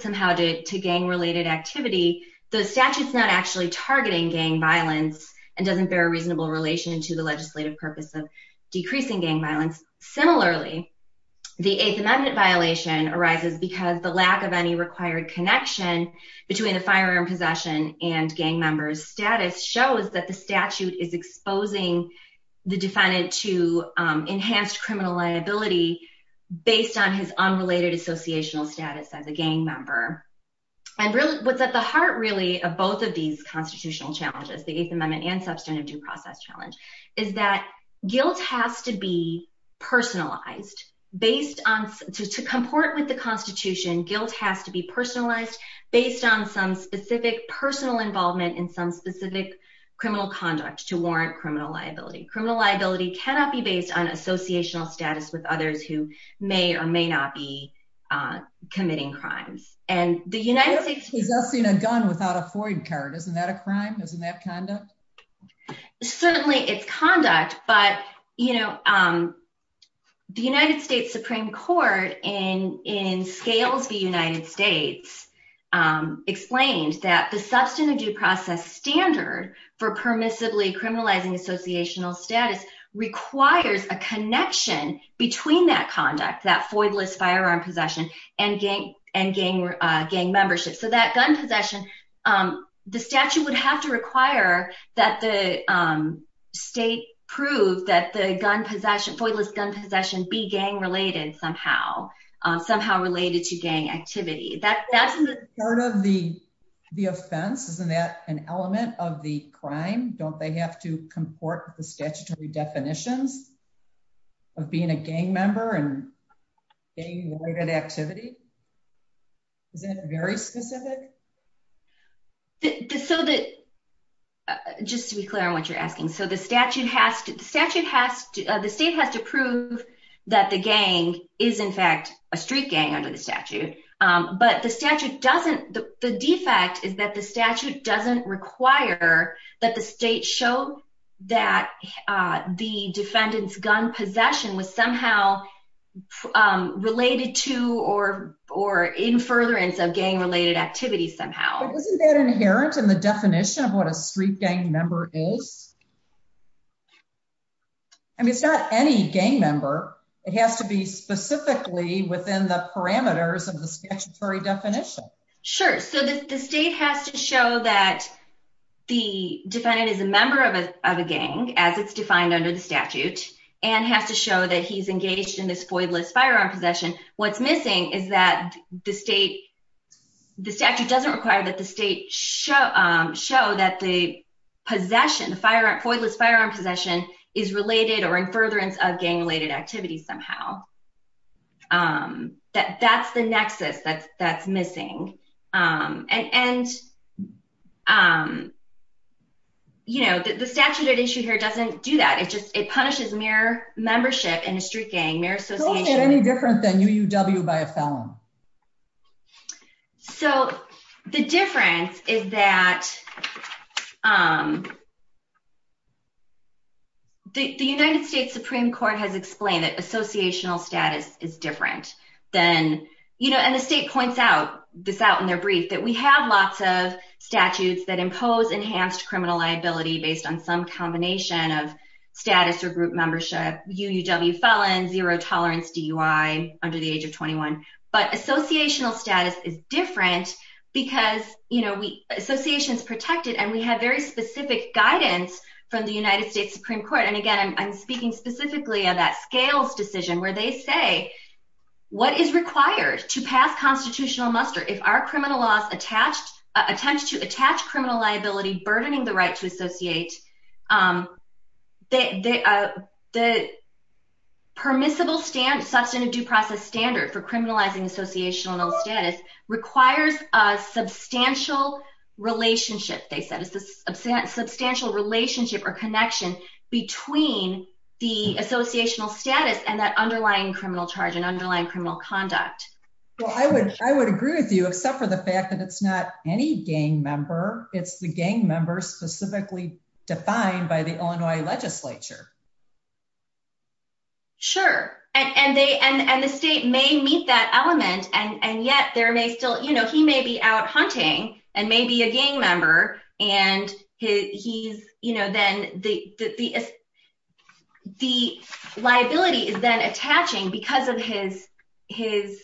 somehow to gang-related activity, the statute's not actually targeting gang violence and doesn't bear a reasonable relation to the legislative purpose of decreasing gang violence. Similarly, the Eighth Amendment violation arises because the lack of any required connection between the firearm possession and gang member's status shows that the statute is exposing the defendant to enhanced criminal liability based on his unrelated associational status as a gang member. And what's at the heart, really, of both of these constitutional challenges, the Eighth Amendment and substantive due process challenge, is that guilt has to be personalized. To comport with the Constitution, guilt has to be personalized based on some specific personal involvement in some specific criminal conduct to warrant criminal liability. Criminal liability cannot be based on associational status with others who may or may not be committing crimes. And the United States... Who's possessing a gun without a FOID card? Isn't that a crime? Isn't that conduct? Certainly, it's conduct. But, you know, the United States Supreme Court in Scales v. United States explained that the substantive due process standard for permissibly criminalizing associational status requires a connection between that conduct, that FOIDless firearm possession, and gang membership. So that gun possession, the statute would have to require that the state prove that the FOIDless gun possession be gang-related somehow, somehow related to gang activity. That's in the... Part of the offense, isn't that an element of the crime? Don't they have to comport with the activity? Is that very specific? So that... Just to be clear on what you're asking. So the statute has to... The statute has to... The state has to prove that the gang is, in fact, a street gang under the statute. But the statute doesn't... The defect is that the statute doesn't require that the state show that the defendant's gun possession was somehow related to or in furtherance of gang-related activity somehow. But isn't that inherent in the definition of what a street gang member is? I mean, it's not any gang member. It has to be specifically within the parameters of the statutory definition. Sure. So the state has to show that the defendant is a member of a gang, as it's defined under the statute, and has to show that he's engaged in this FOIDless firearm possession. What's missing is that the state... The statute doesn't require that the state show that the possession, the FOIDless firearm possession, is related or in furtherance of gang-related activity somehow. That's the nexus that's missing. And the statute at issue here doesn't do that. It punishes mere membership in a street gang, mere association. How is it any different than UUW by a felon? So the difference is that the United States Supreme Court has explained that associational status is different than... And the state points this out in their brief, that we have lots of statutes that impose enhanced criminal liability based on some combination of status or group membership, UUW felon, zero tolerance DUI under the age of 21. But associational status is different because association is protected and we have very specific guidance from the United States Supreme Court. And again, I'm speaking specifically of that scales decision where they say, what is required to pass constitutional muster? If our criminal laws attempt to attach criminal liability, burdening the right to associate, the permissible substantive due process standard for substantial relationship, they said, is this substantial relationship or connection between the associational status and that underlying criminal charge and underlying criminal conduct. Well, I would agree with you, except for the fact that it's not any gang member. It's the gang members specifically defined by the Illinois legislature. Sure. And the state may meet that element and yet there may still... He may be out hunting and may be a gang member and he's... Then the liability is then attaching because of his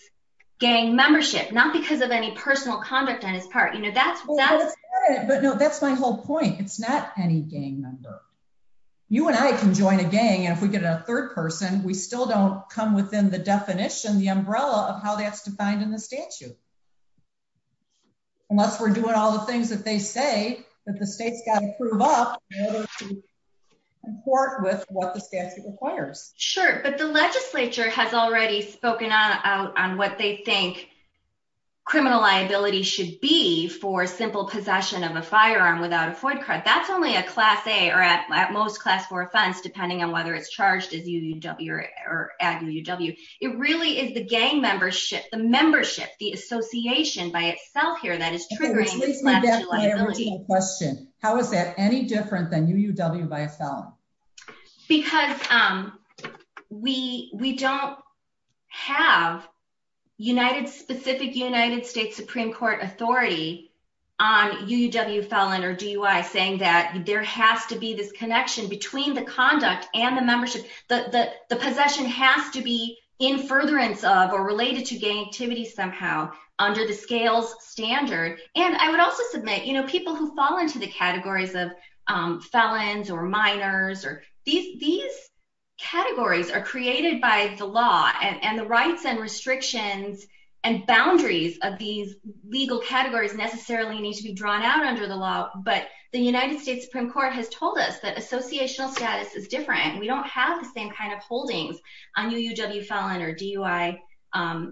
gang membership, not because of any personal conduct on his part. That's... Well, that's not it. But no, that's my whole point. It's not any gang member. You and I can join a gang. And if we get a third person, we still don't come within the definition, the umbrella of how that's defined in the statute. Unless we're doing all the things that they say that the state's got to prove up in court with what the statute requires. Sure. But the legislature has already spoken out on what they think criminal liability should be for simple possession of a firearm without a FOIA card. That's only a class A or at most class four offense, depending on whether it's charged as UUW or at UUW. It really is the gang membership, the membership, the association by itself here that is triggering the class liability. Which leads me back to my original question. How is that any different than UUW by a felon? Because we don't have specific United States Supreme Court authority on UUW felon or DUI saying that there has to be this connection between the conduct and the membership. The possession has to be in furtherance of or related to gang activity somehow under the scales standard. And I would also submit, people who fall into the categories of felons or minors or... These categories are created by the law and the rights and restrictions and boundaries of these legal categories necessarily need to be drawn out under the law. But the United States Supreme Court has told us that associational status is different. We don't have the same kind of holdings on UUW felon or DUI,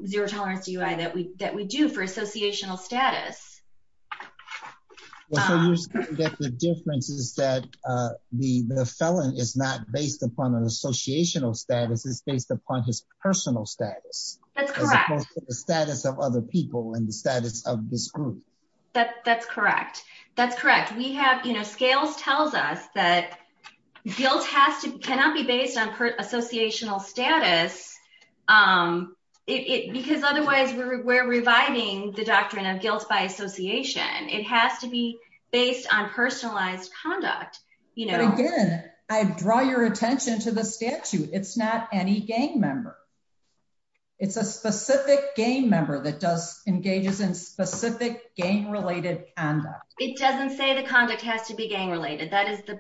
zero tolerance DUI that we do for associational status. Well, so you're saying that the difference is that the felon is not based upon an associational status. It's based upon his personal status. That's correct. As opposed to the status of other people and the status of this group. That's correct. That's correct. We have... Scales tells us that guilt cannot be based on associational status because otherwise we're reviving the doctrine of guilt by association. It has to be based on personalized conduct. But again, I draw your attention to the statute. It's not any gang member. It's a specific gang member that engages in specific gang-related conduct. It doesn't say the conduct has to be gang-related. That is the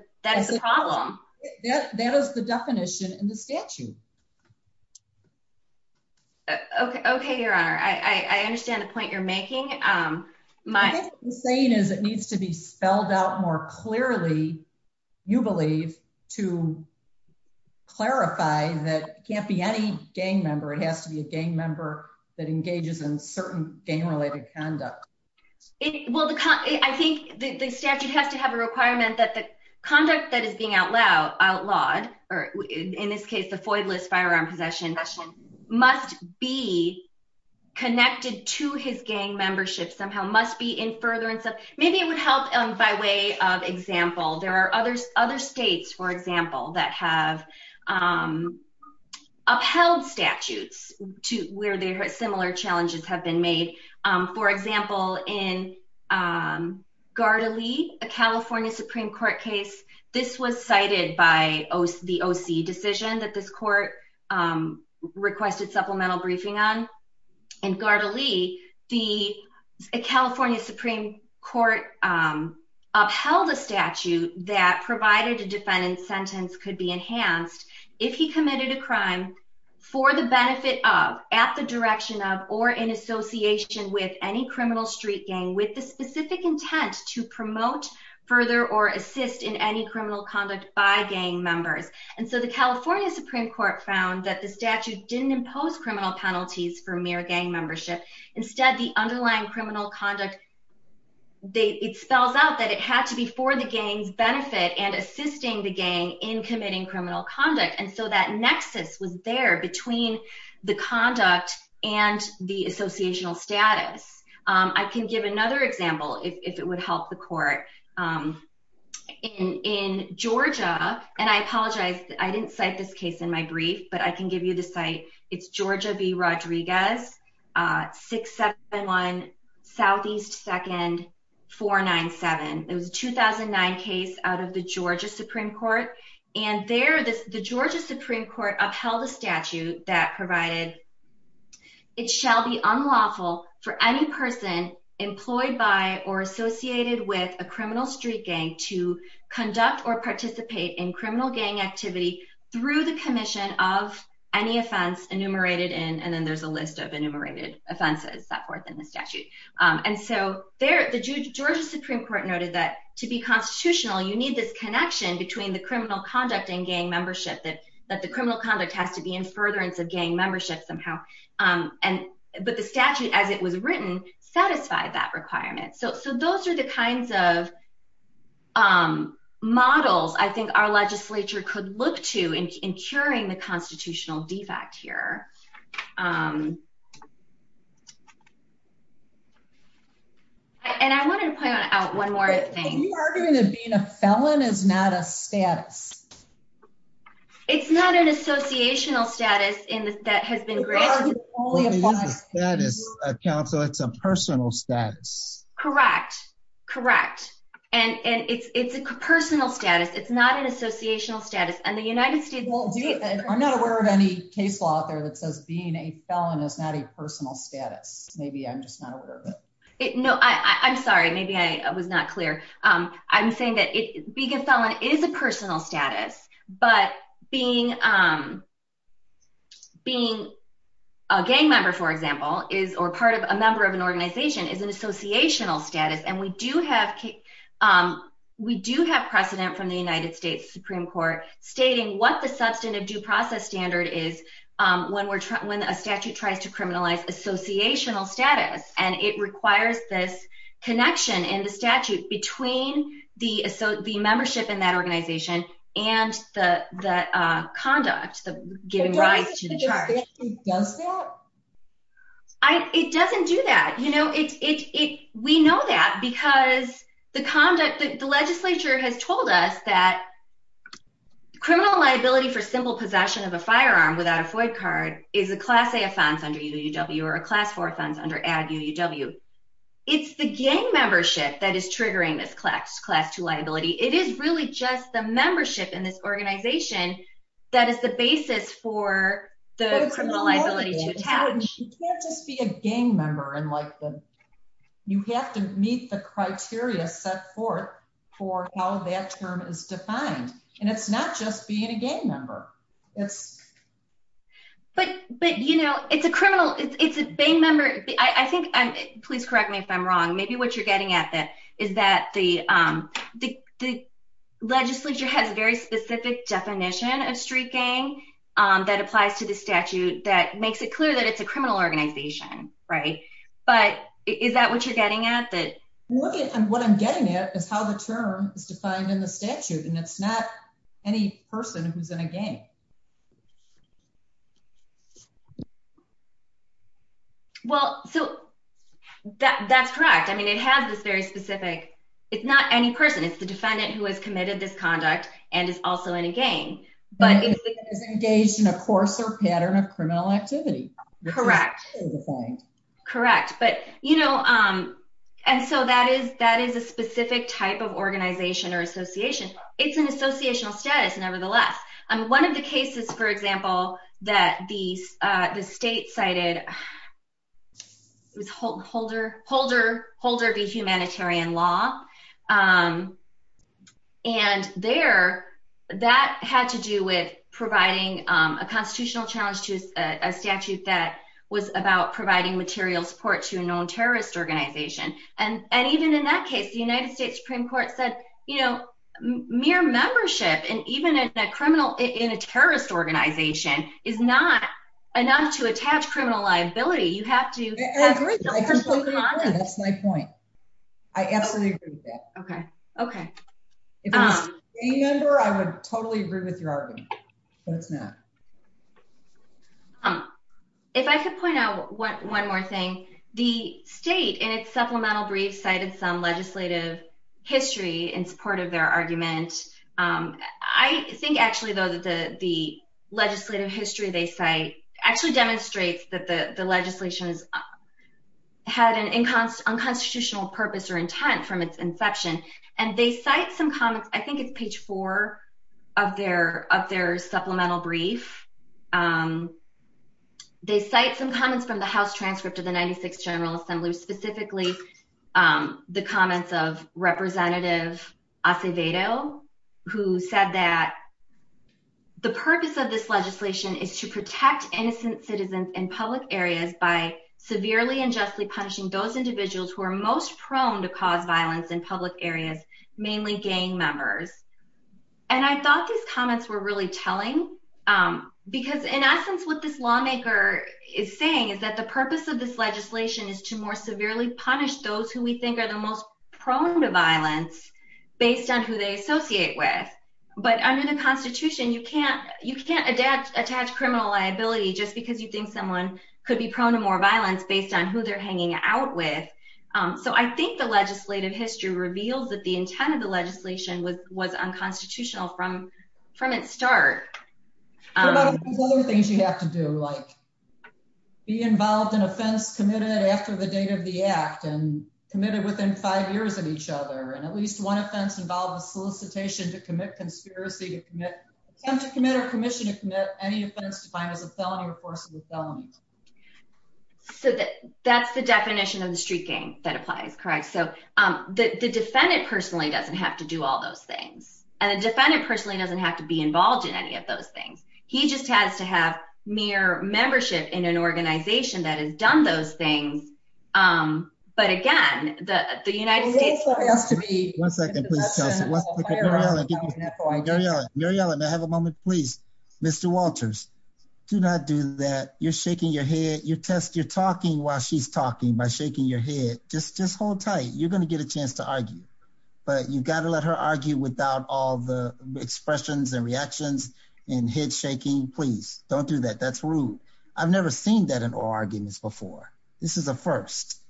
problem. That is the definition in the statute. Okay, Your Honor. I understand the point you're making. My saying is it needs to be spelled out more clearly, you believe, to clarify that it can't be any gang member. It has to be a gang member that engages in certain gang-related conduct. I think the statute has to have a requirement that the conduct that is being outlawed, in this case, the FOID-less firearm possession, must be connected to his gang membership somehow, must be in furtherance of... Maybe it would help by way of example. There are other states, for example, that have upheld statutes where similar challenges have been made. For example, in Gardalee, a California Supreme Court case, this was cited by the OC decision that this court requested supplemental briefing on. In Gardalee, the California Supreme Court upheld a statute that provided a defendant's sentence could be enhanced if he committed a with the specific intent to promote further or assist in any criminal conduct by gang members. And so the California Supreme Court found that the statute didn't impose criminal penalties for mere gang membership. Instead, the underlying criminal conduct, it spells out that it had to be for the gang's benefit and assisting the gang in committing criminal conduct. And so that nexus was there between the conduct and the associational status. I can give another example, if it would help the court. In Georgia, and I apologize, I didn't cite this case in my brief, but I can give you the site. It's Georgia v. Rodriguez, 671 SE 2nd 497. It was a 2009 case out of the Georgia Supreme Court. And there, the Georgia Supreme Court upheld a statute that provided it shall be unlawful for any person employed by or associated with a criminal street gang to conduct or participate in criminal gang activity through the commission of any offense enumerated in, and then there's a list of enumerated offenses, that fourth in the statute. And so there, the Georgia Supreme Court noted that to be constitutional, you need this connection between the criminal conduct and gang membership, that the criminal conduct has to be in furtherance of gang membership somehow. But the statute, as it was written, satisfied that requirement. So those are the kinds of models I think our legislature could look to in curing the And I wanted to point out one more thing. Are you arguing that being a felon is not a status? It's not an associational status that has been granted. It's not an associational status, counsel, it's a personal status. Correct. Correct. And it's a personal status. It's not an associational status. And the United States won't do it. I'm not aware of any case law out there that says being a felon is not a personal status. Maybe I'm just not aware of it. No, I'm sorry. Maybe I was not clear. I'm saying that being a felon is a personal status. But being a gang member, for example, or part of a member of an organization is an associational status. And we do have precedent from the United States Supreme Court stating what the substantive due process standard is when a statute tries to criminalize associational status. And it requires this connection in the statute between the membership in that organization and the conduct, the giving rise to the charge. But doesn't the statute do that? It doesn't do that. We know that because the conduct, the legislature has told us that criminal liability for simple possession of a firearm without a FOIA card is a class A offense under UUW or a class four offense under ADD UUW. It's the gang membership that is triggering this class two liability. It is really just the membership in this organization that is the basis for the criminal liability to attach. You can't just be a gang member and you have to meet the criteria set forth for how that term is defined. And it's not just being a gang member. But it's a criminal, it's a gang member. Please correct me if I'm wrong. Maybe what you're getting at is that the legislature has a very specific definition of street gang that applies to the statute that makes it clear that it's a criminal organization. But is that what you're getting at? What I'm getting at is how the term is defined in the statute. And it's not any person who's in a gang. Well, so that's correct. I mean, it has this very specific, it's not any person. It's the defendant who has committed this conduct and is also in a gang. But it is engaged in a course or pattern of criminal activity. Correct. Correct. But you know, and so that is a specific type of organization or association. It's an associational status, nevertheless. One of the cases, for example, that the state cited was Holder v. Humanitarian Law. And there, that had to do with providing a constitutional challenge to a statute that was about providing material support to a known terrorist organization. And even in that case, the United States Supreme Court said, you know, mere membership, and even in a criminal, in a terrorist organization, is not enough to attach criminal liability. You have to have the person come on in. That's my point. I absolutely agree with that. Okay. Okay. If it was a gang member, I would totally agree with your argument. But it's not. If I could point out one more thing, the state, in its supplemental brief, cited some legislative history in support of their argument. I think, actually, though, that the legislative history they cite actually demonstrates that the legislation had an unconstitutional purpose or intent from its inception. And they cite some comments, I think it's page four of their supplemental brief, they cite some comments from the House transcript of the 96th General Assembly, specifically the comments of Representative Acevedo, who said that, the purpose of this legislation is to protect innocent citizens in public areas by severely and justly punishing those individuals who are most prone to cause violence in public areas, mainly gang members. And I thought these comments were really telling. Because, in essence, what this lawmaker is saying is that the purpose of this legislation is to more severely punish those who we think are the most prone to violence based on who they associate with. But under the Constitution, you can't attach criminal liability just because you think someone could be prone to more violence based on who they're hanging out with. So I think the legislative history reveals that the intent of the legislation was unconstitutional from its start. What about all those other things you have to do? Like be involved in offense committed after the date of the act and committed within five years of each other. And at least one offense involved a solicitation to commit conspiracy to commit, attempt to commit or commission to commit any offense defined as a felony or force of the felony. So that's the definition of the street gang that applies, correct? So the defendant personally doesn't have to do all those things. And the defendant personally doesn't have to be involved in any of those things. He just has to have mere membership in an organization that has done those things. But again, the United States has to be. One second, please. Mary Ellen, I have a moment, please. Mr. Walters, do not do that. You're shaking your head. You test your talking while she's talking by shaking your head. Just hold tight. You're going to get a chance to argue, but you've got to let her argue without all the expressions and reactions and head shaking. Please don't do that. That's rude. I've never seen that in oral arguments before. This is a first.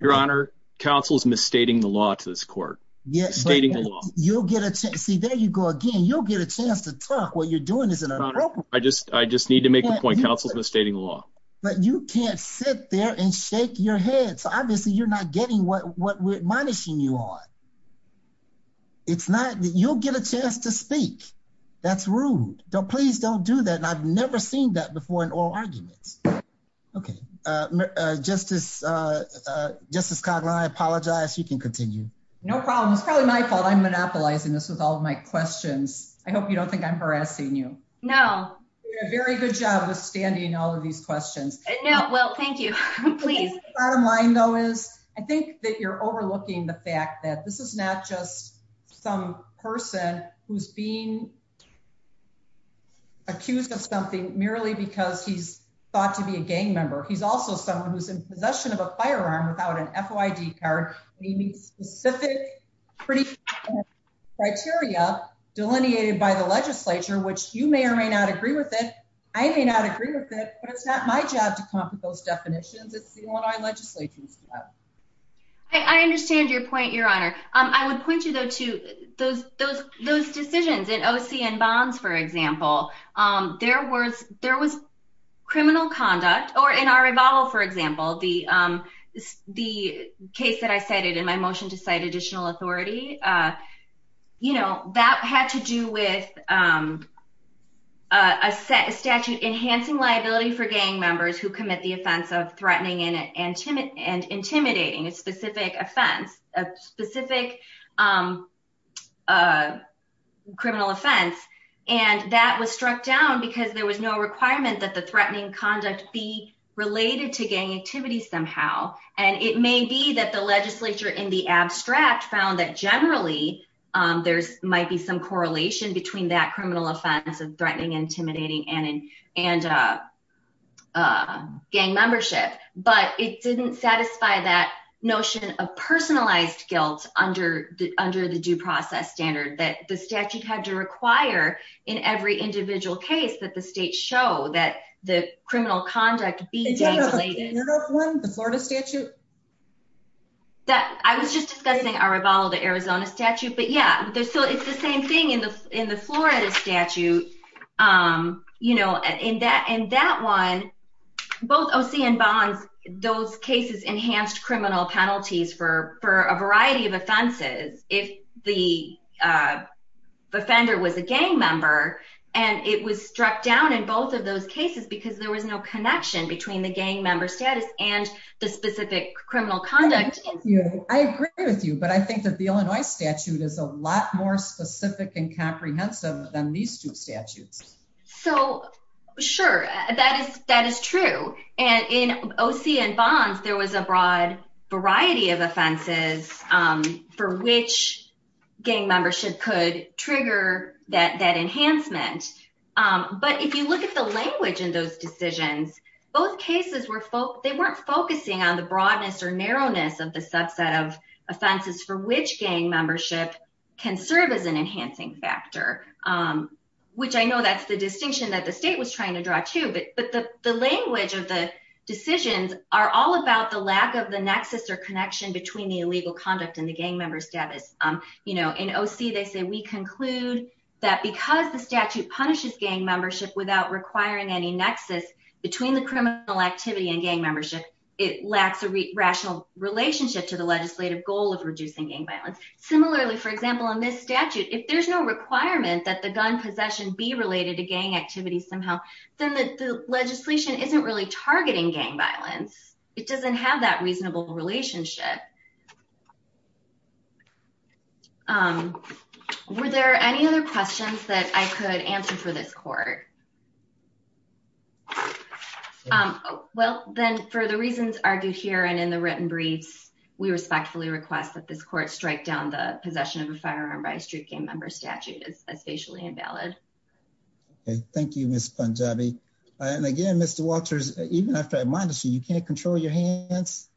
Your Honor, counsel's misstating the law to this court. See, there you go again. You'll get a chance to talk. What you're doing is inappropriate. I just need to make a point. Counsel's misstating the law. But you can't sit there and shake your head. So obviously you're not getting what we're admonishing you on. It's not that you'll get a chance to speak. That's rude. Please don't do that. I've never seen that before in oral arguments. Okay. Justice Cogler, I apologize. You can continue. No problem. It's probably my fault. I'm monopolizing this with all of my questions. I hope you don't think I'm harassing you. No. You're doing a very good job withstanding all of these questions. No. Well, thank you. Please. Bottom line, though, is I think that you're overlooking the fact that this is not just some person who's being accused of something merely because he's thought to be a gang member. He's also someone who's in possession of a firearm without an FOID card. He meets specific criteria delineated by the legislature, which you may or may not agree with it. I may not agree with it. But it's not my job to come up with those definitions. It's the one our legislations have. I understand your point, Your Honor. I would point you, though, to those decisions in OC and Bonds, for example. There was criminal conduct or in our rebuttal, for example, the case that I cited in my motion to cite additional authority. You know, that had to do with a statute enhancing liability for gang members who commit the offense of threatening and intimidating a specific offense, a specific criminal offense. And that was struck down because there was no requirement that the threatening conduct be related to gang activity somehow. And it may be that the legislature in the abstract found that generally there might be some correlation between that criminal offense of threatening, intimidating and gang membership. But it didn't satisfy that notion of personalized guilt under the due process standard that the statute had to require in every individual case that the state show that the criminal conduct be gang related. The Florida statute? I was just discussing our rebuttal to Arizona statute. But yeah, it's the same thing in the Florida statute. You know, in that one, both OC and Bonds, those cases enhanced criminal penalties for a variety of offenses if the offender was a gang member. And it was struck down in both of those cases because there was no connection between the gang member status and the specific criminal conduct. I agree with you, but I think that the Illinois statute is a lot more specific and comprehensive than these two statutes. So sure, that is true. And in OC and Bonds, there was a broad variety of offenses for which gang membership could trigger that enhancement. But if you look at the language in those decisions, both cases, they weren't focusing on the broadness or narrowness of the subset of offenses for which gang membership can serve as an enhancing factor, which I know that's the distinction that the state was trying to draw too. But the language of the decisions are all about the lack of the nexus or connection between the illegal conduct and the gang member status. In OC, they say, we conclude that because the statute punishes gang membership without requiring any nexus between the criminal activity and gang membership, it lacks a rational relationship to the legislative goal of reducing gang violence. Similarly, for example, in this statute, if there's no requirement that the gun possession be related to gang activity somehow, then the legislation isn't really targeting gang violence. It doesn't have that reasonable relationship. Um, were there any other questions that I could answer for this court? Um, well, then, for the reasons argued here and in the written briefs, we respectfully request that this court strike down the possession of a firearm by a street gang member statute as facially invalid. Okay, thank you, Ms. Punjabi. And again, Mr. Walters, even after I reminded you, you can't control your hands.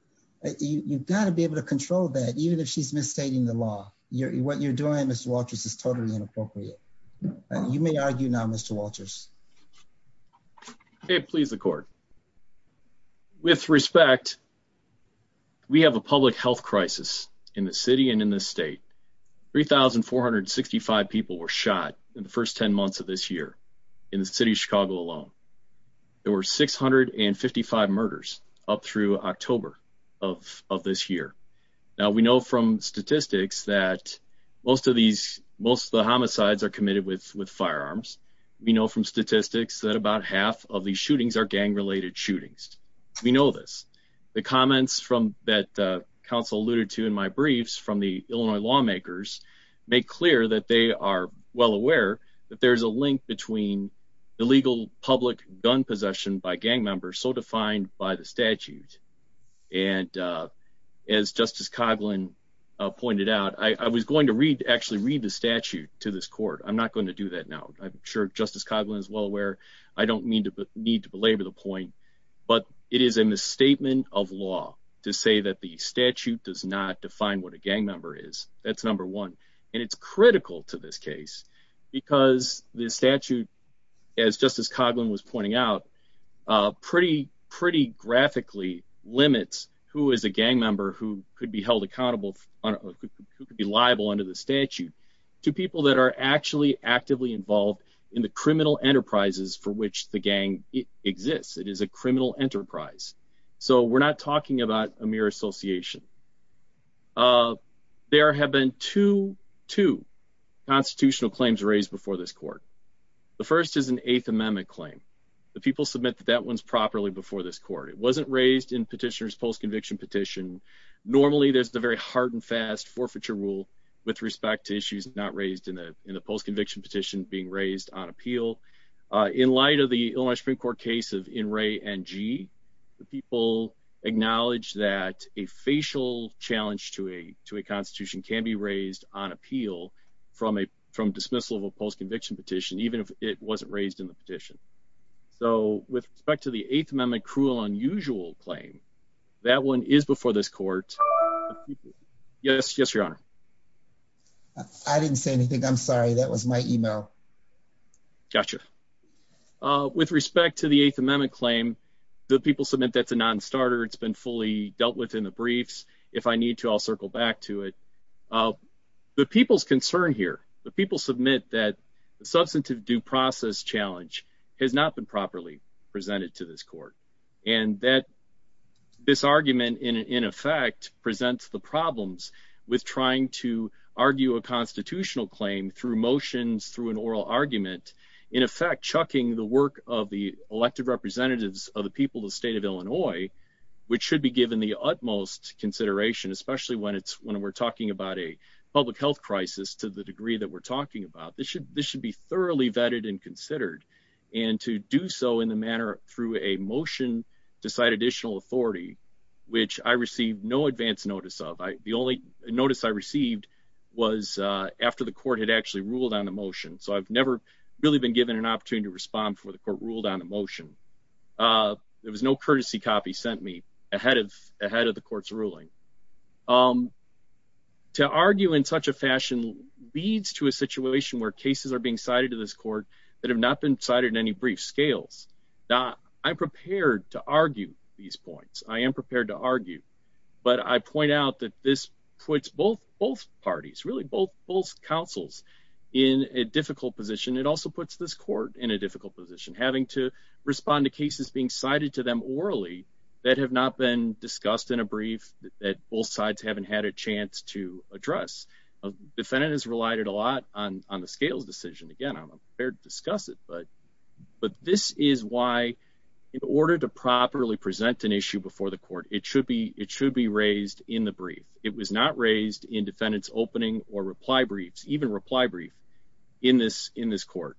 You've got to be able to control that, even if she's misstating the law. What you're doing, Mr. Walters, is totally inappropriate. You may argue now, Mr. Walters. Okay, please, the court. With respect, we have a public health crisis in the city and in this state. 3,465 people were shot in the first 10 months of this year in the city of Chicago alone. There were 655 murders up through October of this year. Now, we know from statistics that most of these, most of the homicides are committed with firearms. We know from statistics that about half of these shootings are gang-related shootings. We know this. The comments from that council alluded to in my briefs from the Illinois lawmakers make clear that they are well aware that there's a link between illegal public gun possession by gang members so defined by the statute. And as Justice Coghlan pointed out, I was going to read, actually read the statute to this court. I'm not going to do that now. I'm sure Justice Coghlan is well aware. I don't need to belabor the point, but it is a misstatement of law to say that the statute does not define what a gang member is. That's number one. And it's critical to this case because the statute, as Justice Coghlan was pointing out, pretty graphically limits who is a gang member who could be held accountable, who could be liable under the statute to people that are actually actively involved in the criminal enterprises for which the gang exists. It is a criminal enterprise. So we're not talking about a mere association. There have been two constitutional claims raised before this court. The first is an Eighth Amendment claim. The people submit that that one's properly before this court. It wasn't raised in petitioners post conviction petition. Normally, there's the very hard and fast forfeiture rule with respect to issues not raised in the post conviction petition being raised on appeal. In light of the Illinois Supreme Court case of In Re and G, the people acknowledge that a facial challenge to a to a constitution can be raised on appeal from a from dismissal of a post conviction petition, even if it wasn't raised in the petition. So with respect to the Eighth Amendment, cruel, unusual claim, that one is before this court. Yes, yes, your honor. I didn't say anything. I'm sorry. That was my email. Gotcha. With respect to the Eighth Amendment claim, the people submit that's a nonstarter. It's been fully dealt with in the briefs. If I need to, I'll circle back to it. The people's concern here. The people submit that the substantive due process challenge has not been properly presented to this court and that this argument, in effect, presents the problems with trying to argue a constitutional claim through motions, through an oral argument, in effect, chucking the of the elected representatives of the people, the state of Illinois, which should be given the utmost consideration, especially when it's when we're talking about a public health crisis to the degree that we're talking about. This should this should be thoroughly vetted and considered and to do so in the manner through a motion to cite additional authority, which I received no advance notice of the only notice I received was after the court had actually ruled on the motion. So I've never really been given an opportunity to respond for the court ruled on a motion. There was no courtesy copy sent me ahead of ahead of the court's ruling. To argue in such a fashion leads to a situation where cases are being cited to this court that have not been cited in any brief scales. I'm prepared to argue these points. I am prepared to argue, but I point out that this puts both both parties really both both counsels in a difficult position. It also puts this court in a difficult position, having to respond to cases being cited to them orally that have not been discussed in a brief that both sides haven't had a chance to address. Defendant has relied a lot on on the scales decision. Again, I'm prepared to discuss it, but but this is why in order to properly present an issue before the court, it should be it should be raised in the brief. It was not raised in defendant's opening or reply briefs, even reply brief in this in this court.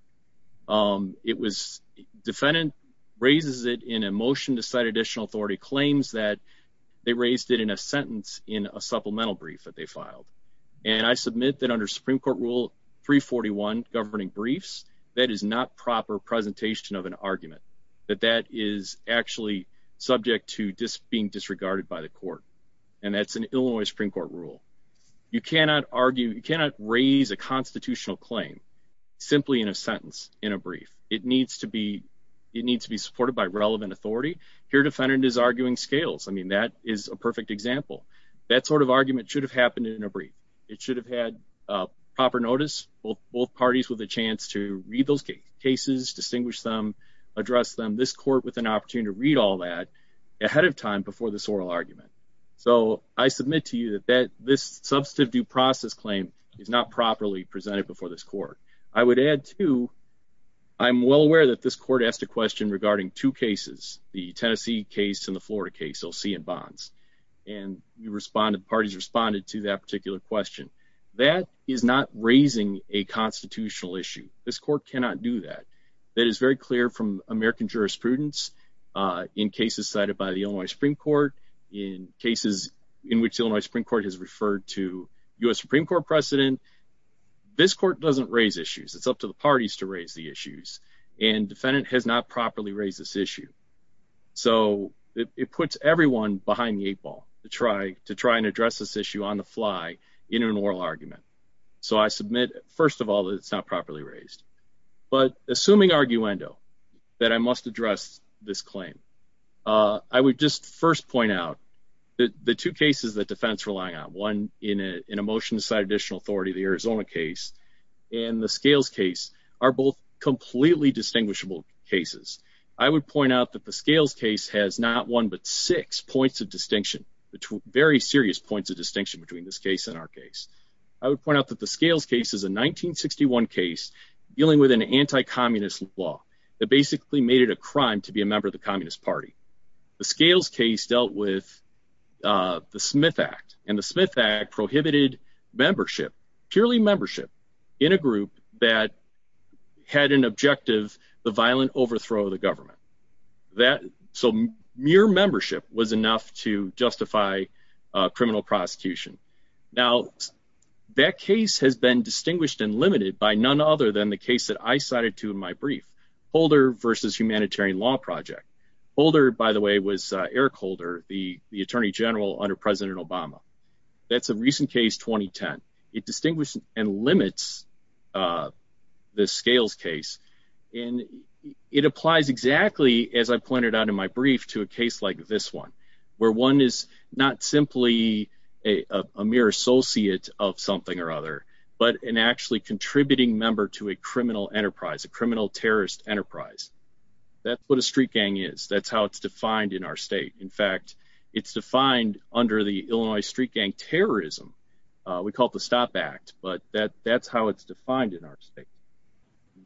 It was defendant raises it in a motion to cite additional authority claims that they raised it in a sentence in a supplemental brief that they filed. And I submit that under Supreme Court Rule 341 governing briefs, that is not proper presentation of an argument that that is actually subject to being disregarded by the court. And that's an Illinois Supreme Court rule. You cannot argue you cannot raise a constitutional claim simply in a sentence in a brief. It needs to be it needs to be supported by relevant authority here. Defendant is arguing scales. I mean, that is a perfect example. That sort of argument should have happened in a brief. It should have had proper notice. Both parties with a chance to read those cases, distinguish them, address them. This court with an opportunity to read all that ahead of time before this oral argument. So I submit to you that that this substantive due process claim is not properly presented before this court. I would add to I'm well aware that this court asked a question regarding two cases, the Tennessee case and the Florida case. You'll see in bonds and you responded. Parties responded to that particular question. That is not raising a constitutional issue. This court cannot do that. That is very clear from American jurisprudence in cases cited by the only Supreme Court in in which Illinois Supreme Court has referred to US Supreme Court precedent. This court doesn't raise issues. It's up to the parties to raise the issues. And defendant has not properly raised this issue. So it puts everyone behind the eight ball to try to try and address this issue on the fly in an oral argument. So I submit, first of all, it's not properly raised. But assuming arguendo that I must address this claim, I would just first point out the two cases that defense relying on one in a motion to cite additional authority, the Arizona case and the scales case are both completely distinguishable cases. I would point out that the scales case has not one but six points of distinction, very serious points of distinction between this case and our case. I would point out that the scales case is a 1961 case dealing with an anti-communist law that basically made it a crime to be a member of the Communist Party. The scales case dealt with the Smith Act and the Smith Act prohibited membership, purely membership in a group that had an objective, the violent overthrow of the government. That some mere membership was enough to justify criminal prosecution. Now, that case has been distinguished and limited by none other than the case that I Holder, by the way, was Eric Holder, the attorney general under President Obama. That's a recent case, 2010. It distinguished and limits the scales case. And it applies exactly as I pointed out in my brief to a case like this one, where one is not simply a mere associate of something or other, but an actually contributing member to a criminal enterprise, a criminal terrorist enterprise. That's what a street gang is. That's how it's defined in our state. In fact, it's defined under the Illinois street gang terrorism. We call it the Stop Act, but that's how it's defined in our state.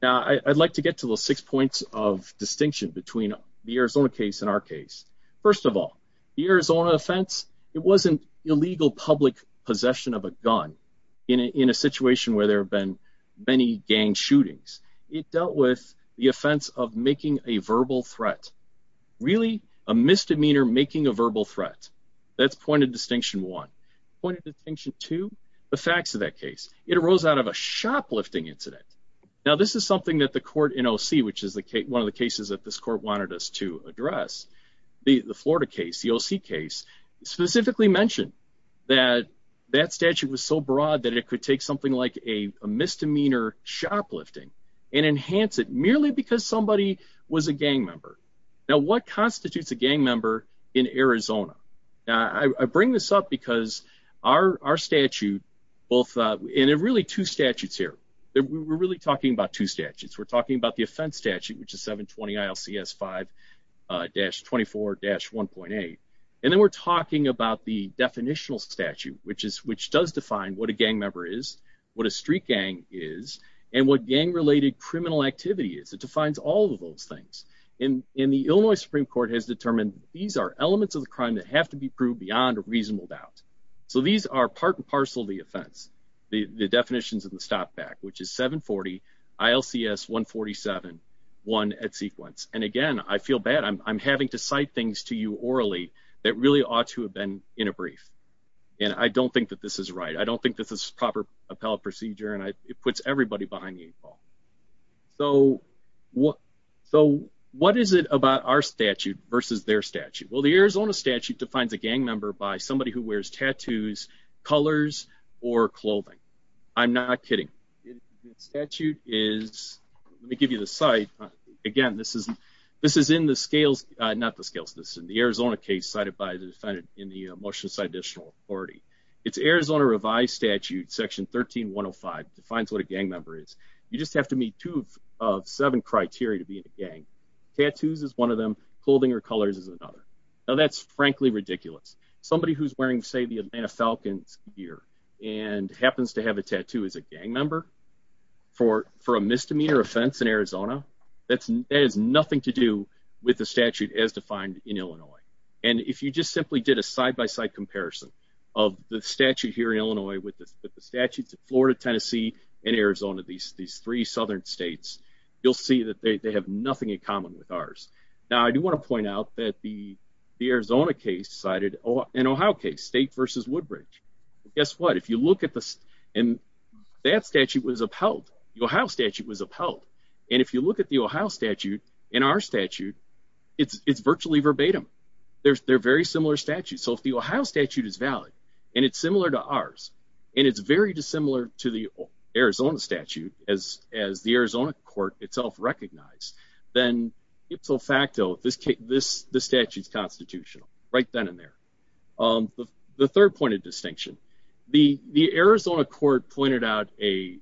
Now, I'd like to get to the six points of distinction between the Arizona case and our case. First of all, the Arizona offense, it wasn't illegal public possession of a gun in a situation where there have been many gang shootings. It dealt with the offense of making a verbal threat. Really, a misdemeanor making a verbal threat. That's point of distinction one. Point of distinction two, the facts of that case. It arose out of a shoplifting incident. Now, this is something that the court in OC, which is one of the cases that this court wanted us to address, the Florida case, the OC case, specifically mentioned that that something like a misdemeanor shoplifting and enhance it merely because somebody was a gang member. Now, what constitutes a gang member in Arizona? Now, I bring this up because our statute, and there are really two statutes here. We're really talking about two statutes. We're talking about the offense statute, which is 720 ILCS 5-24-1.8, and then we're talking about the definitional statute, which does define what a gang member is, what a street gang is, and what gang-related criminal activity is. It defines all of those things. And the Illinois Supreme Court has determined these are elements of the crime that have to be proved beyond a reasonable doubt. So these are part and parcel of the offense, the definitions of the stop back, which is 740 ILCS 147-1 at sequence. And again, I feel bad. I'm having to cite things to you orally that really ought to have been in a brief, and I don't think that this is right. I don't think this is proper appellate procedure, and it puts everybody behind the eight ball. So what is it about our statute versus their statute? Well, the Arizona statute defines a gang member by somebody who wears tattoos, colors, or clothing. I'm not kidding. The statute is, let me give you the site. Again, this is in the Arizona case cited by the defendant in the motion to cite additional authority. It's Arizona revised statute, section 13-105, defines what a gang member is. You just have to meet two of seven criteria to be in a gang. Tattoos is one of them. Clothing or colors is another. Now, that's frankly ridiculous. Somebody who's wearing, say, the Atlanta Falcons gear and happens to have a tattoo as a gang member for a misdemeanor offense in Arizona, that has nothing to do with the statute as defined in Illinois. And if you just simply did a side-by-side comparison of the statute here in Illinois with the statutes of Florida, Tennessee, and Arizona, these three southern states, you'll see that they have nothing in common with ours. Now, I do want to point out that the Arizona case cited an Ohio case, State versus Woodbridge. Guess what? And that statute was upheld. The Ohio statute was upheld. And if you look at the Ohio statute and our statute, it's virtually verbatim. They're very similar statutes. So if the Ohio statute is valid, and it's similar to ours, and it's very dissimilar to the Arizona statute as the Arizona court itself recognized, then ipso facto, this statute's constitutional right then and there. But the third point of distinction, the Arizona court pointed out a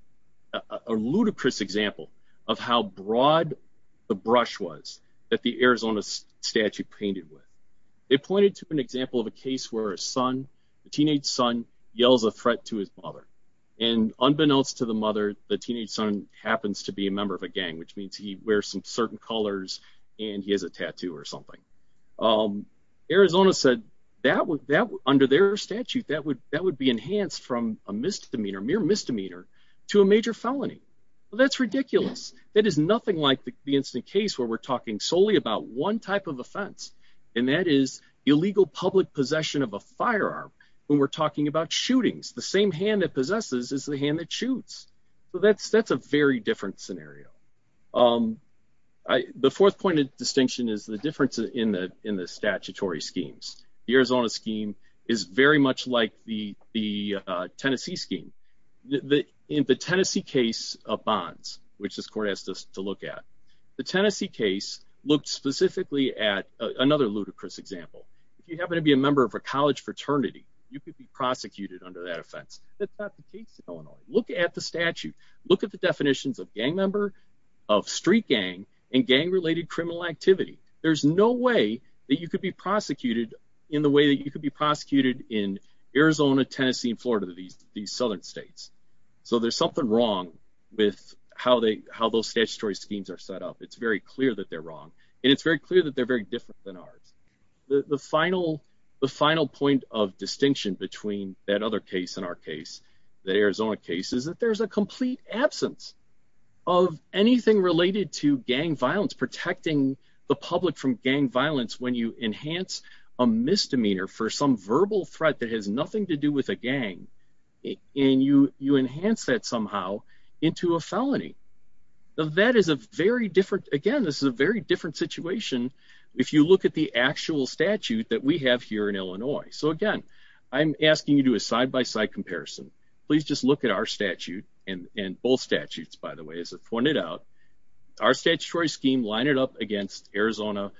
ludicrous example of how broad the brush was that the Arizona statute painted with. They pointed to an example of a case where a son, a teenage son, yells a threat to his mother. And unbeknownst to the mother, the teenage son happens to be a member of a gang, which means he wears some certain colors, and he has a tattoo or something. Arizona said that under their statute, that would be enhanced from a misdemeanor, mere misdemeanor, to a major felony. Well, that's ridiculous. That is nothing like the incident case where we're talking solely about one type of offense, and that is illegal public possession of a firearm when we're talking about shootings. The same hand that possesses is the hand that shoots. So that's a very different scenario. The fourth point of distinction is the difference in the statutory schemes. The Arizona scheme is very much like the Tennessee scheme. In the Tennessee case of bonds, which this court asked us to look at, the Tennessee case looked specifically at another ludicrous example. If you happen to be a member of a college fraternity, you could be prosecuted under that offense. That's not the case in Illinois. Look at the statute. Look at the definitions of gang member, of street gang, and gang-related criminal activity. There's no way that you could be prosecuted in the way that you could be prosecuted in Arizona, Tennessee, and Florida, these southern states. So there's something wrong with how those statutory schemes are set up. It's very clear that they're wrong, and it's very clear that they're very different than ours. The final point of distinction between that other case and our case, the Arizona case, is that there's a complete absence of anything related to gang violence, protecting the public from gang violence when you enhance a misdemeanor for some verbal threat that has nothing to do with a gang, and you enhance that somehow into a felony. That is a very different, again, this is a very different situation if you look at the actual statute that we have here in Illinois. So again, I'm asking you to do a side-by-side comparison. Please just look at our statute, and both statutes, by the way, as I've pointed out. Our statutory scheme, line it up against Arizona,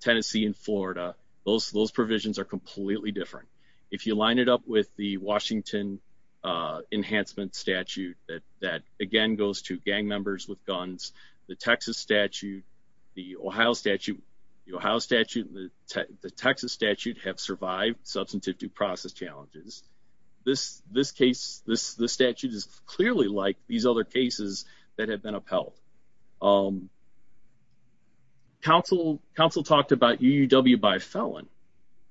Tennessee, and Florida, those provisions are completely different. If you line it up with the Washington Enhancement Statute that, again, goes to gang members with guns, the Texas statute, the Ohio statute, the Ohio statute and the Texas statute have survived substantive due process challenges. This case, this statute is clearly like these other cases that have been upheld. Council talked about UUW by felon.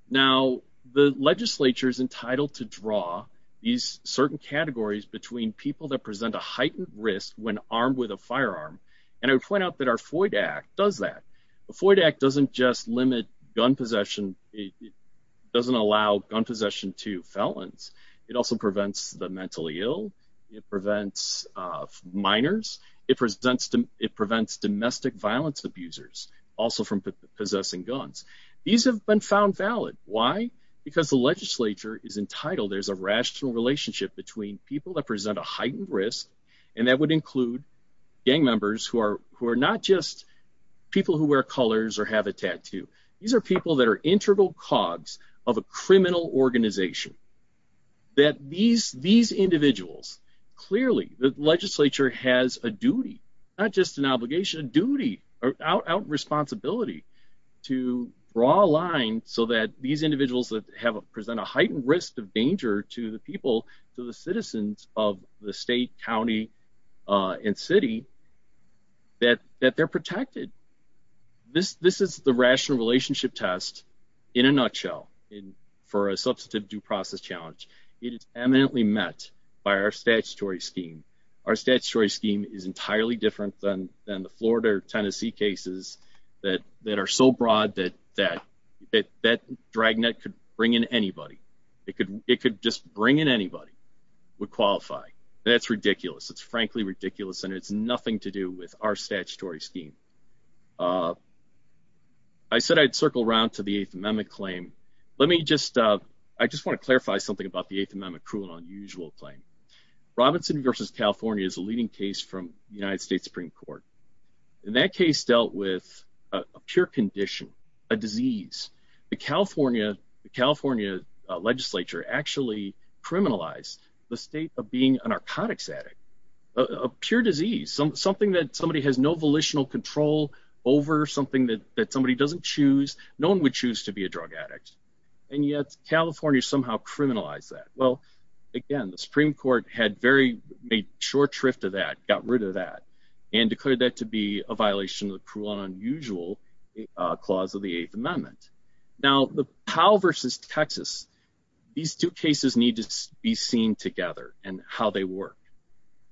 Now, the legislature is entitled to draw these certain categories between people that present a heightened risk when armed with a firearm, and I would point out that our FOID Act does that. The FOID Act doesn't just limit gun possession, it doesn't allow gun possession to felons, it also prevents the mentally ill, it prevents minors, it prevents domestic violence abusers also from possessing guns. These have been found valid. Why? Because the legislature is entitled, there's a rational relationship between people that present a heightened risk, and that would include gang members who are not just people who wear colors or have a tattoo. These are people that are integral cogs of a criminal organization. That these individuals, clearly, the legislature has a duty, not just an obligation, a duty, a responsibility to draw a line so that these individuals that present a heightened risk of danger to the people, to the citizens of the state, county, and city, that they're protected. This is the rational relationship test, in a nutshell, for a substantive due process challenge. It is eminently met by our statutory scheme. Our statutory scheme is entirely different than the Florida or Tennessee cases that are so broad that that dragnet could bring in anybody. It could just bring in anybody with qualifying. That's ridiculous. It's frankly ridiculous, and it's nothing to do with our statutory scheme. I said I'd circle around to the Eighth Amendment claim. I just want to clarify something about the Eighth Amendment cruel and unusual claim. Robinson versus California is a leading case from the United States Supreme Court. And that case dealt with a pure condition, a disease. The California legislature actually criminalized the state of being a narcotics addict. A pure disease, something that somebody has no volitional control over, something that somebody doesn't choose. No one would choose to be a drug addict. And yet California somehow criminalized that. Well, again, the Supreme Court had made short shrift of that, got rid of that, and declared that to be a violation of the cruel and unusual clause of the Eighth Amendment. Now, the Powell versus Texas, these two cases need to be seen together and how they work.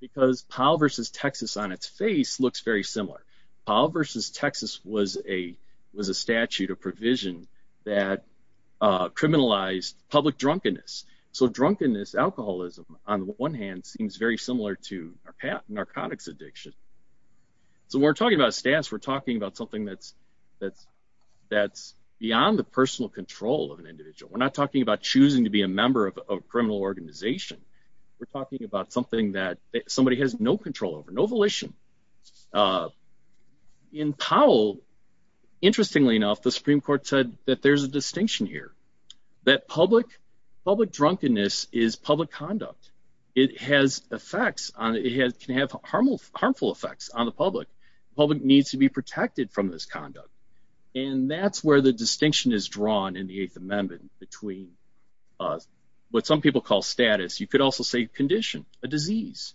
Because Powell versus Texas on its face looks very similar. Powell versus Texas was a statute of provision that criminalized public drunkenness. So drunkenness, alcoholism, on the one hand, seems very similar to narcotics addiction. So we're talking about status. We're talking about something that's beyond the personal control of an individual. We're not talking about choosing to be a member of a criminal organization. We're talking about something that somebody has no control over, no volition. In Powell, interestingly enough, the Supreme Court said that there's a distinction here. That public drunkenness is public conduct. It has effects, it can have harmful effects on the public. The public needs to be protected from this conduct. And that's where the distinction is drawn in the Eighth Amendment between what some people call status. You could also say condition, a disease,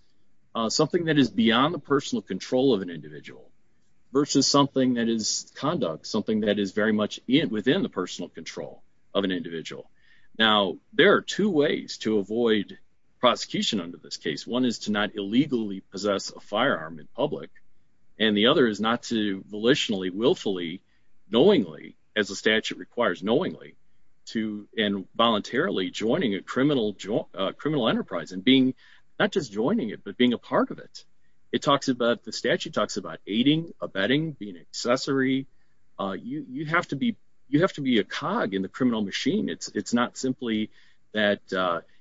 something that is beyond the personal control of an individual versus something that is conduct, something that is very much within the personal control of an individual. Now, there are two ways to avoid prosecution under this case. One is to not illegally possess a firearm in public. And the other is not to volitionally, willfully, knowingly, as the statute requires, knowingly, and voluntarily joining a criminal enterprise and being, not just joining it, but being a part of it. It talks about, the statute talks about aiding, abetting, being an accessory. You have to be a cog in the criminal machine. It's not simply that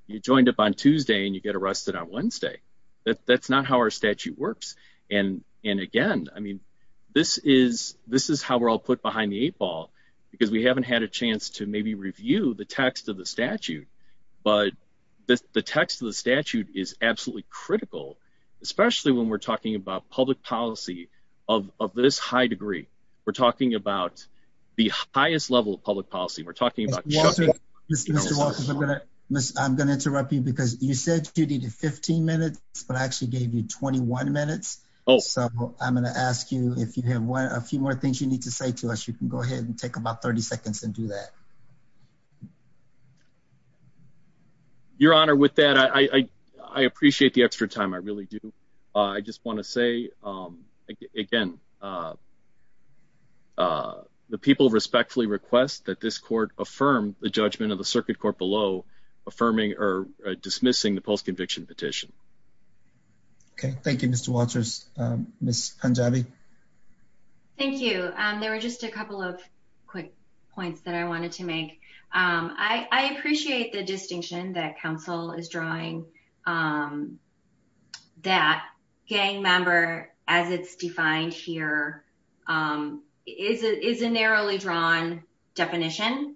you joined up on Tuesday and you get arrested on Wednesday. That's not how our statute works. And again, I mean, this is how we're all put behind the eight ball, because we haven't had a chance to maybe review the text of the statute. But the text of the statute is absolutely critical, especially when we're talking about public policy of this high degree. We're talking about the highest level of public policy. We're talking about- Mr. Walters, I'm going to interrupt you because you said you needed 15 minutes, but I actually gave you 21 minutes. So I'm going to ask you if you have a few more things you need to say to us, you can go ahead and take about 30 seconds and do that. Your Honor, with that, I appreciate the extra time. I really do. I just want to say, again, the people respectfully request that this court affirm the judgment of the circuit court below affirming or dismissing the post-conviction petition. Okay. Thank you, Mr. Walters. Ms. Punjabi? Thank you. There were just a couple of quick points that I wanted to make. I appreciate the distinction that counsel is drawing that gang member, as it's defined here, is a narrowly drawn definition.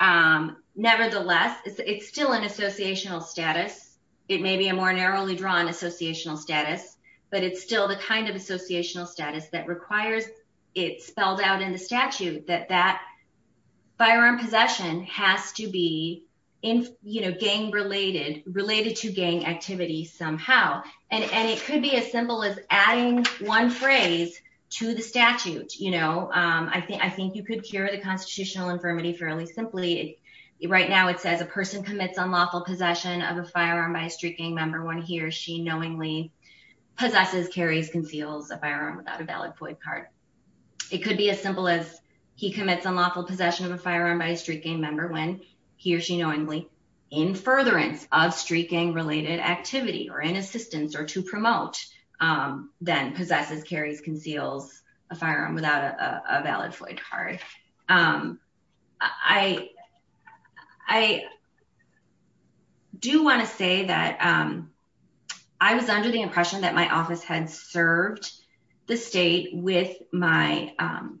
Nevertheless, it's still an associational status. It may be a more narrowly drawn associational status, but it's still the kind of associational status that requires it spelled out in the statute that that firearm possession has to be gang-related, related to gang activity somehow. And it could be as simple as adding one phrase to the statute. I think you could cure the constitutional infirmity fairly simply. Right now, it says a person commits unlawful possession of a firearm by a street gang member when he or she knowingly possesses, carries, conceals a firearm without a valid FOIA card. It could be as simple as he commits unlawful possession of a firearm by a street gang member when he or she knowingly, in furtherance of street gang-related activity or in assistance or to promote, then possesses, carries, conceals a firearm without a valid FOIA card. I do want to say that I was under the impression that my office had served the state with my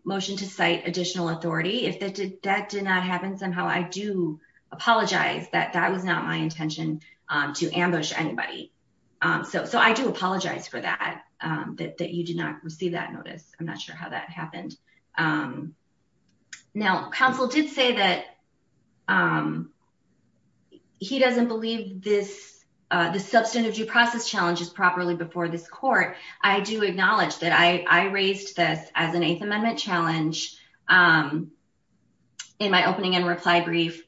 motion to cite additional authority. If that did not happen, somehow I do apologize that that was not my intention to ambush anybody. So I do apologize for that, that you did not receive that notice. I'm not sure how that happened. Now, counsel did say that he doesn't believe the substantive due process challenge is properly before this court. I do acknowledge that I raised this as an Eighth Amendment challenge in my opening and reply brief.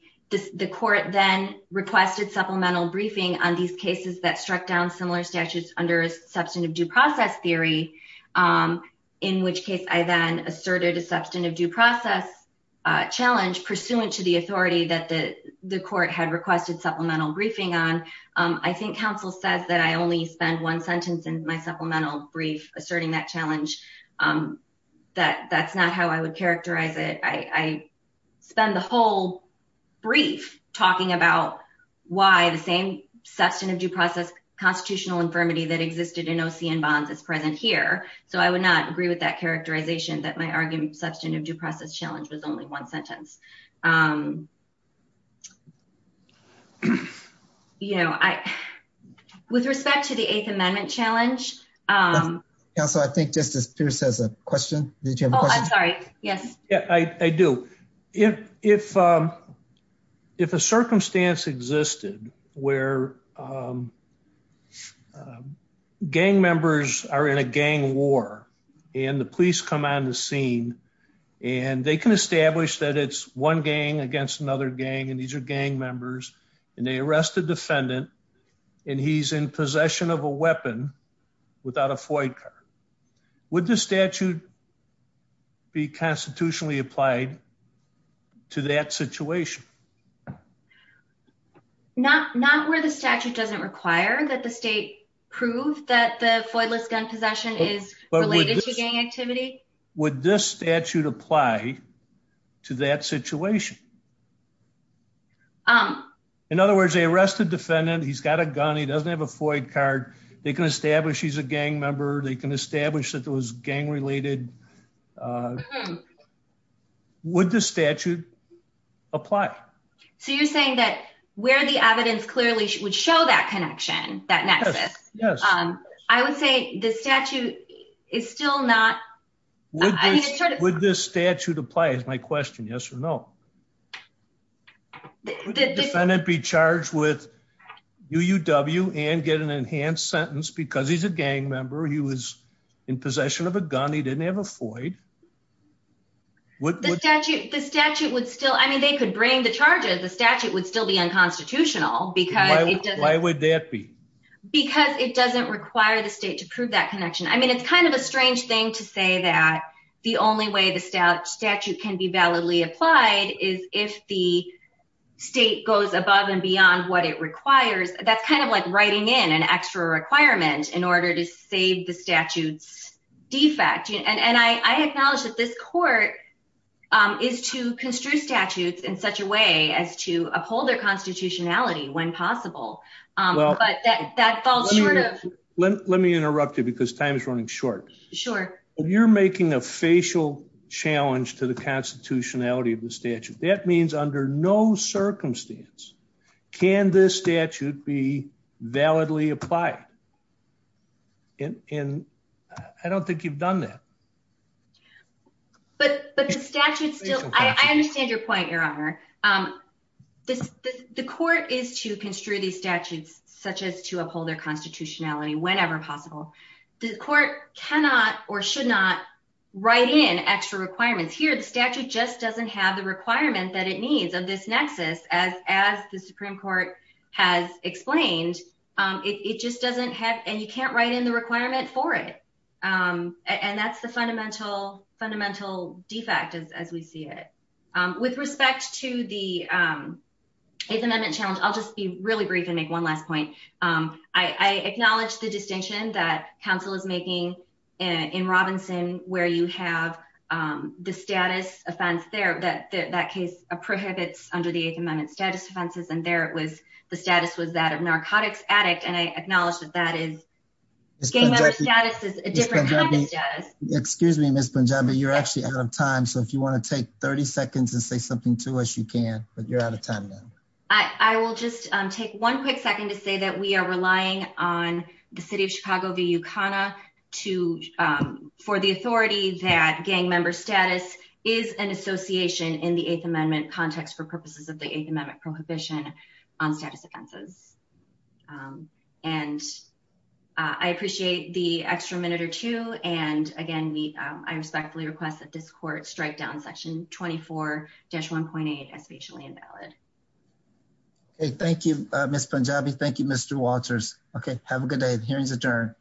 The court then requested supplemental briefing on these cases that struck down similar statutes under substantive due process theory, in which case I then asserted a substantive due process challenge pursuant to the authority that the court had requested supplemental briefing on. I think counsel says that I only spend one sentence in my supplemental brief asserting that challenge. That's not how I would characterize it. I spend the whole brief talking about why the same substantive due process constitutional infirmity that existed in OCN bonds is present here. So I would not agree with that characterization that my argument substantive due process challenge was only one sentence. You know, with respect to the Eighth Amendment challenge. Counsel, I think Justice Pierce has a question. Oh, I'm sorry. Yes, I do. If a circumstance existed where gang members are in a gang war and the police come on the scene and they can establish that it's one gang against another gang and these are gang members and they arrest the defendant and he's in possession of a weapon without a Floyd card, would the statute be constitutionally applied? To that situation. Not not where the statute doesn't require that the state prove that the pointless gun possession is related to gang activity. Would this statute apply to that situation? In other words, they arrested defendant. He's got a gun. He doesn't have a Floyd card. They can establish he's a gang member. They can establish that there was gang related. Um, would the statute apply? So you're saying that where the evidence clearly would show that connection, that nexus? Yes, I would say the statute is still not. Would this statute apply is my question. Yes or no? The defendant be charged with UUW and get an enhanced sentence because he's a gang member. He was in possession of a gun. He didn't have a Floyd. The statute would still. I mean, they could bring the charges. The statute would still be unconstitutional because why would that be? Because it doesn't require the state to prove that connection. I mean, it's kind of a strange thing to say that the only way the statute can be validly applied is if the state goes above and beyond what it requires. That's kind of like writing in an extra requirement in order to save the statute's defect. And I acknowledge that this court is to construe statutes in such a way as to uphold their constitutionality when possible. But that falls short of. Let me interrupt you because time is running short. Sure. You're making a facial challenge to the constitutionality of the statute. That means under no circumstance can this statute be validly applied. And I don't think you've done that. But the statute still I understand your point, Your Honor. The court is to construe these statutes such as to uphold their constitutionality whenever possible, the court cannot or should not write in extra requirements here. The statute just doesn't have the requirement that it needs of this nexus as as the Supreme Court has explained, it just doesn't have and you can't write in the requirement for it. And that's the fundamental, fundamental defect as we see it. With respect to the 8th Amendment challenge, I'll just be really brief and make one last point. I acknowledge the distinction that counsel is making in Robinson, where you have the status offense there that that case prohibits under the 8th Amendment status offenses and the status was that of narcotics addict. And I acknowledge that that is a different kind of status. Excuse me, Miss Punjabi, you're actually out of time. So if you want to take 30 seconds and say something to us, you can, but you're out of time now. I will just take one quick second to say that we are relying on the city of Chicago, the UConn to for the authority that gang member status is an association in the 8th Amendment context for purposes of the 8th Amendment prohibition on status offenses. And I appreciate the extra minute or two. And again, I respectfully request that this court strike down Section 24-1.8 as patiently invalid. OK, thank you, Miss Punjabi. Thank you, Mr. Walters. OK, have a good day. The hearing is adjourned.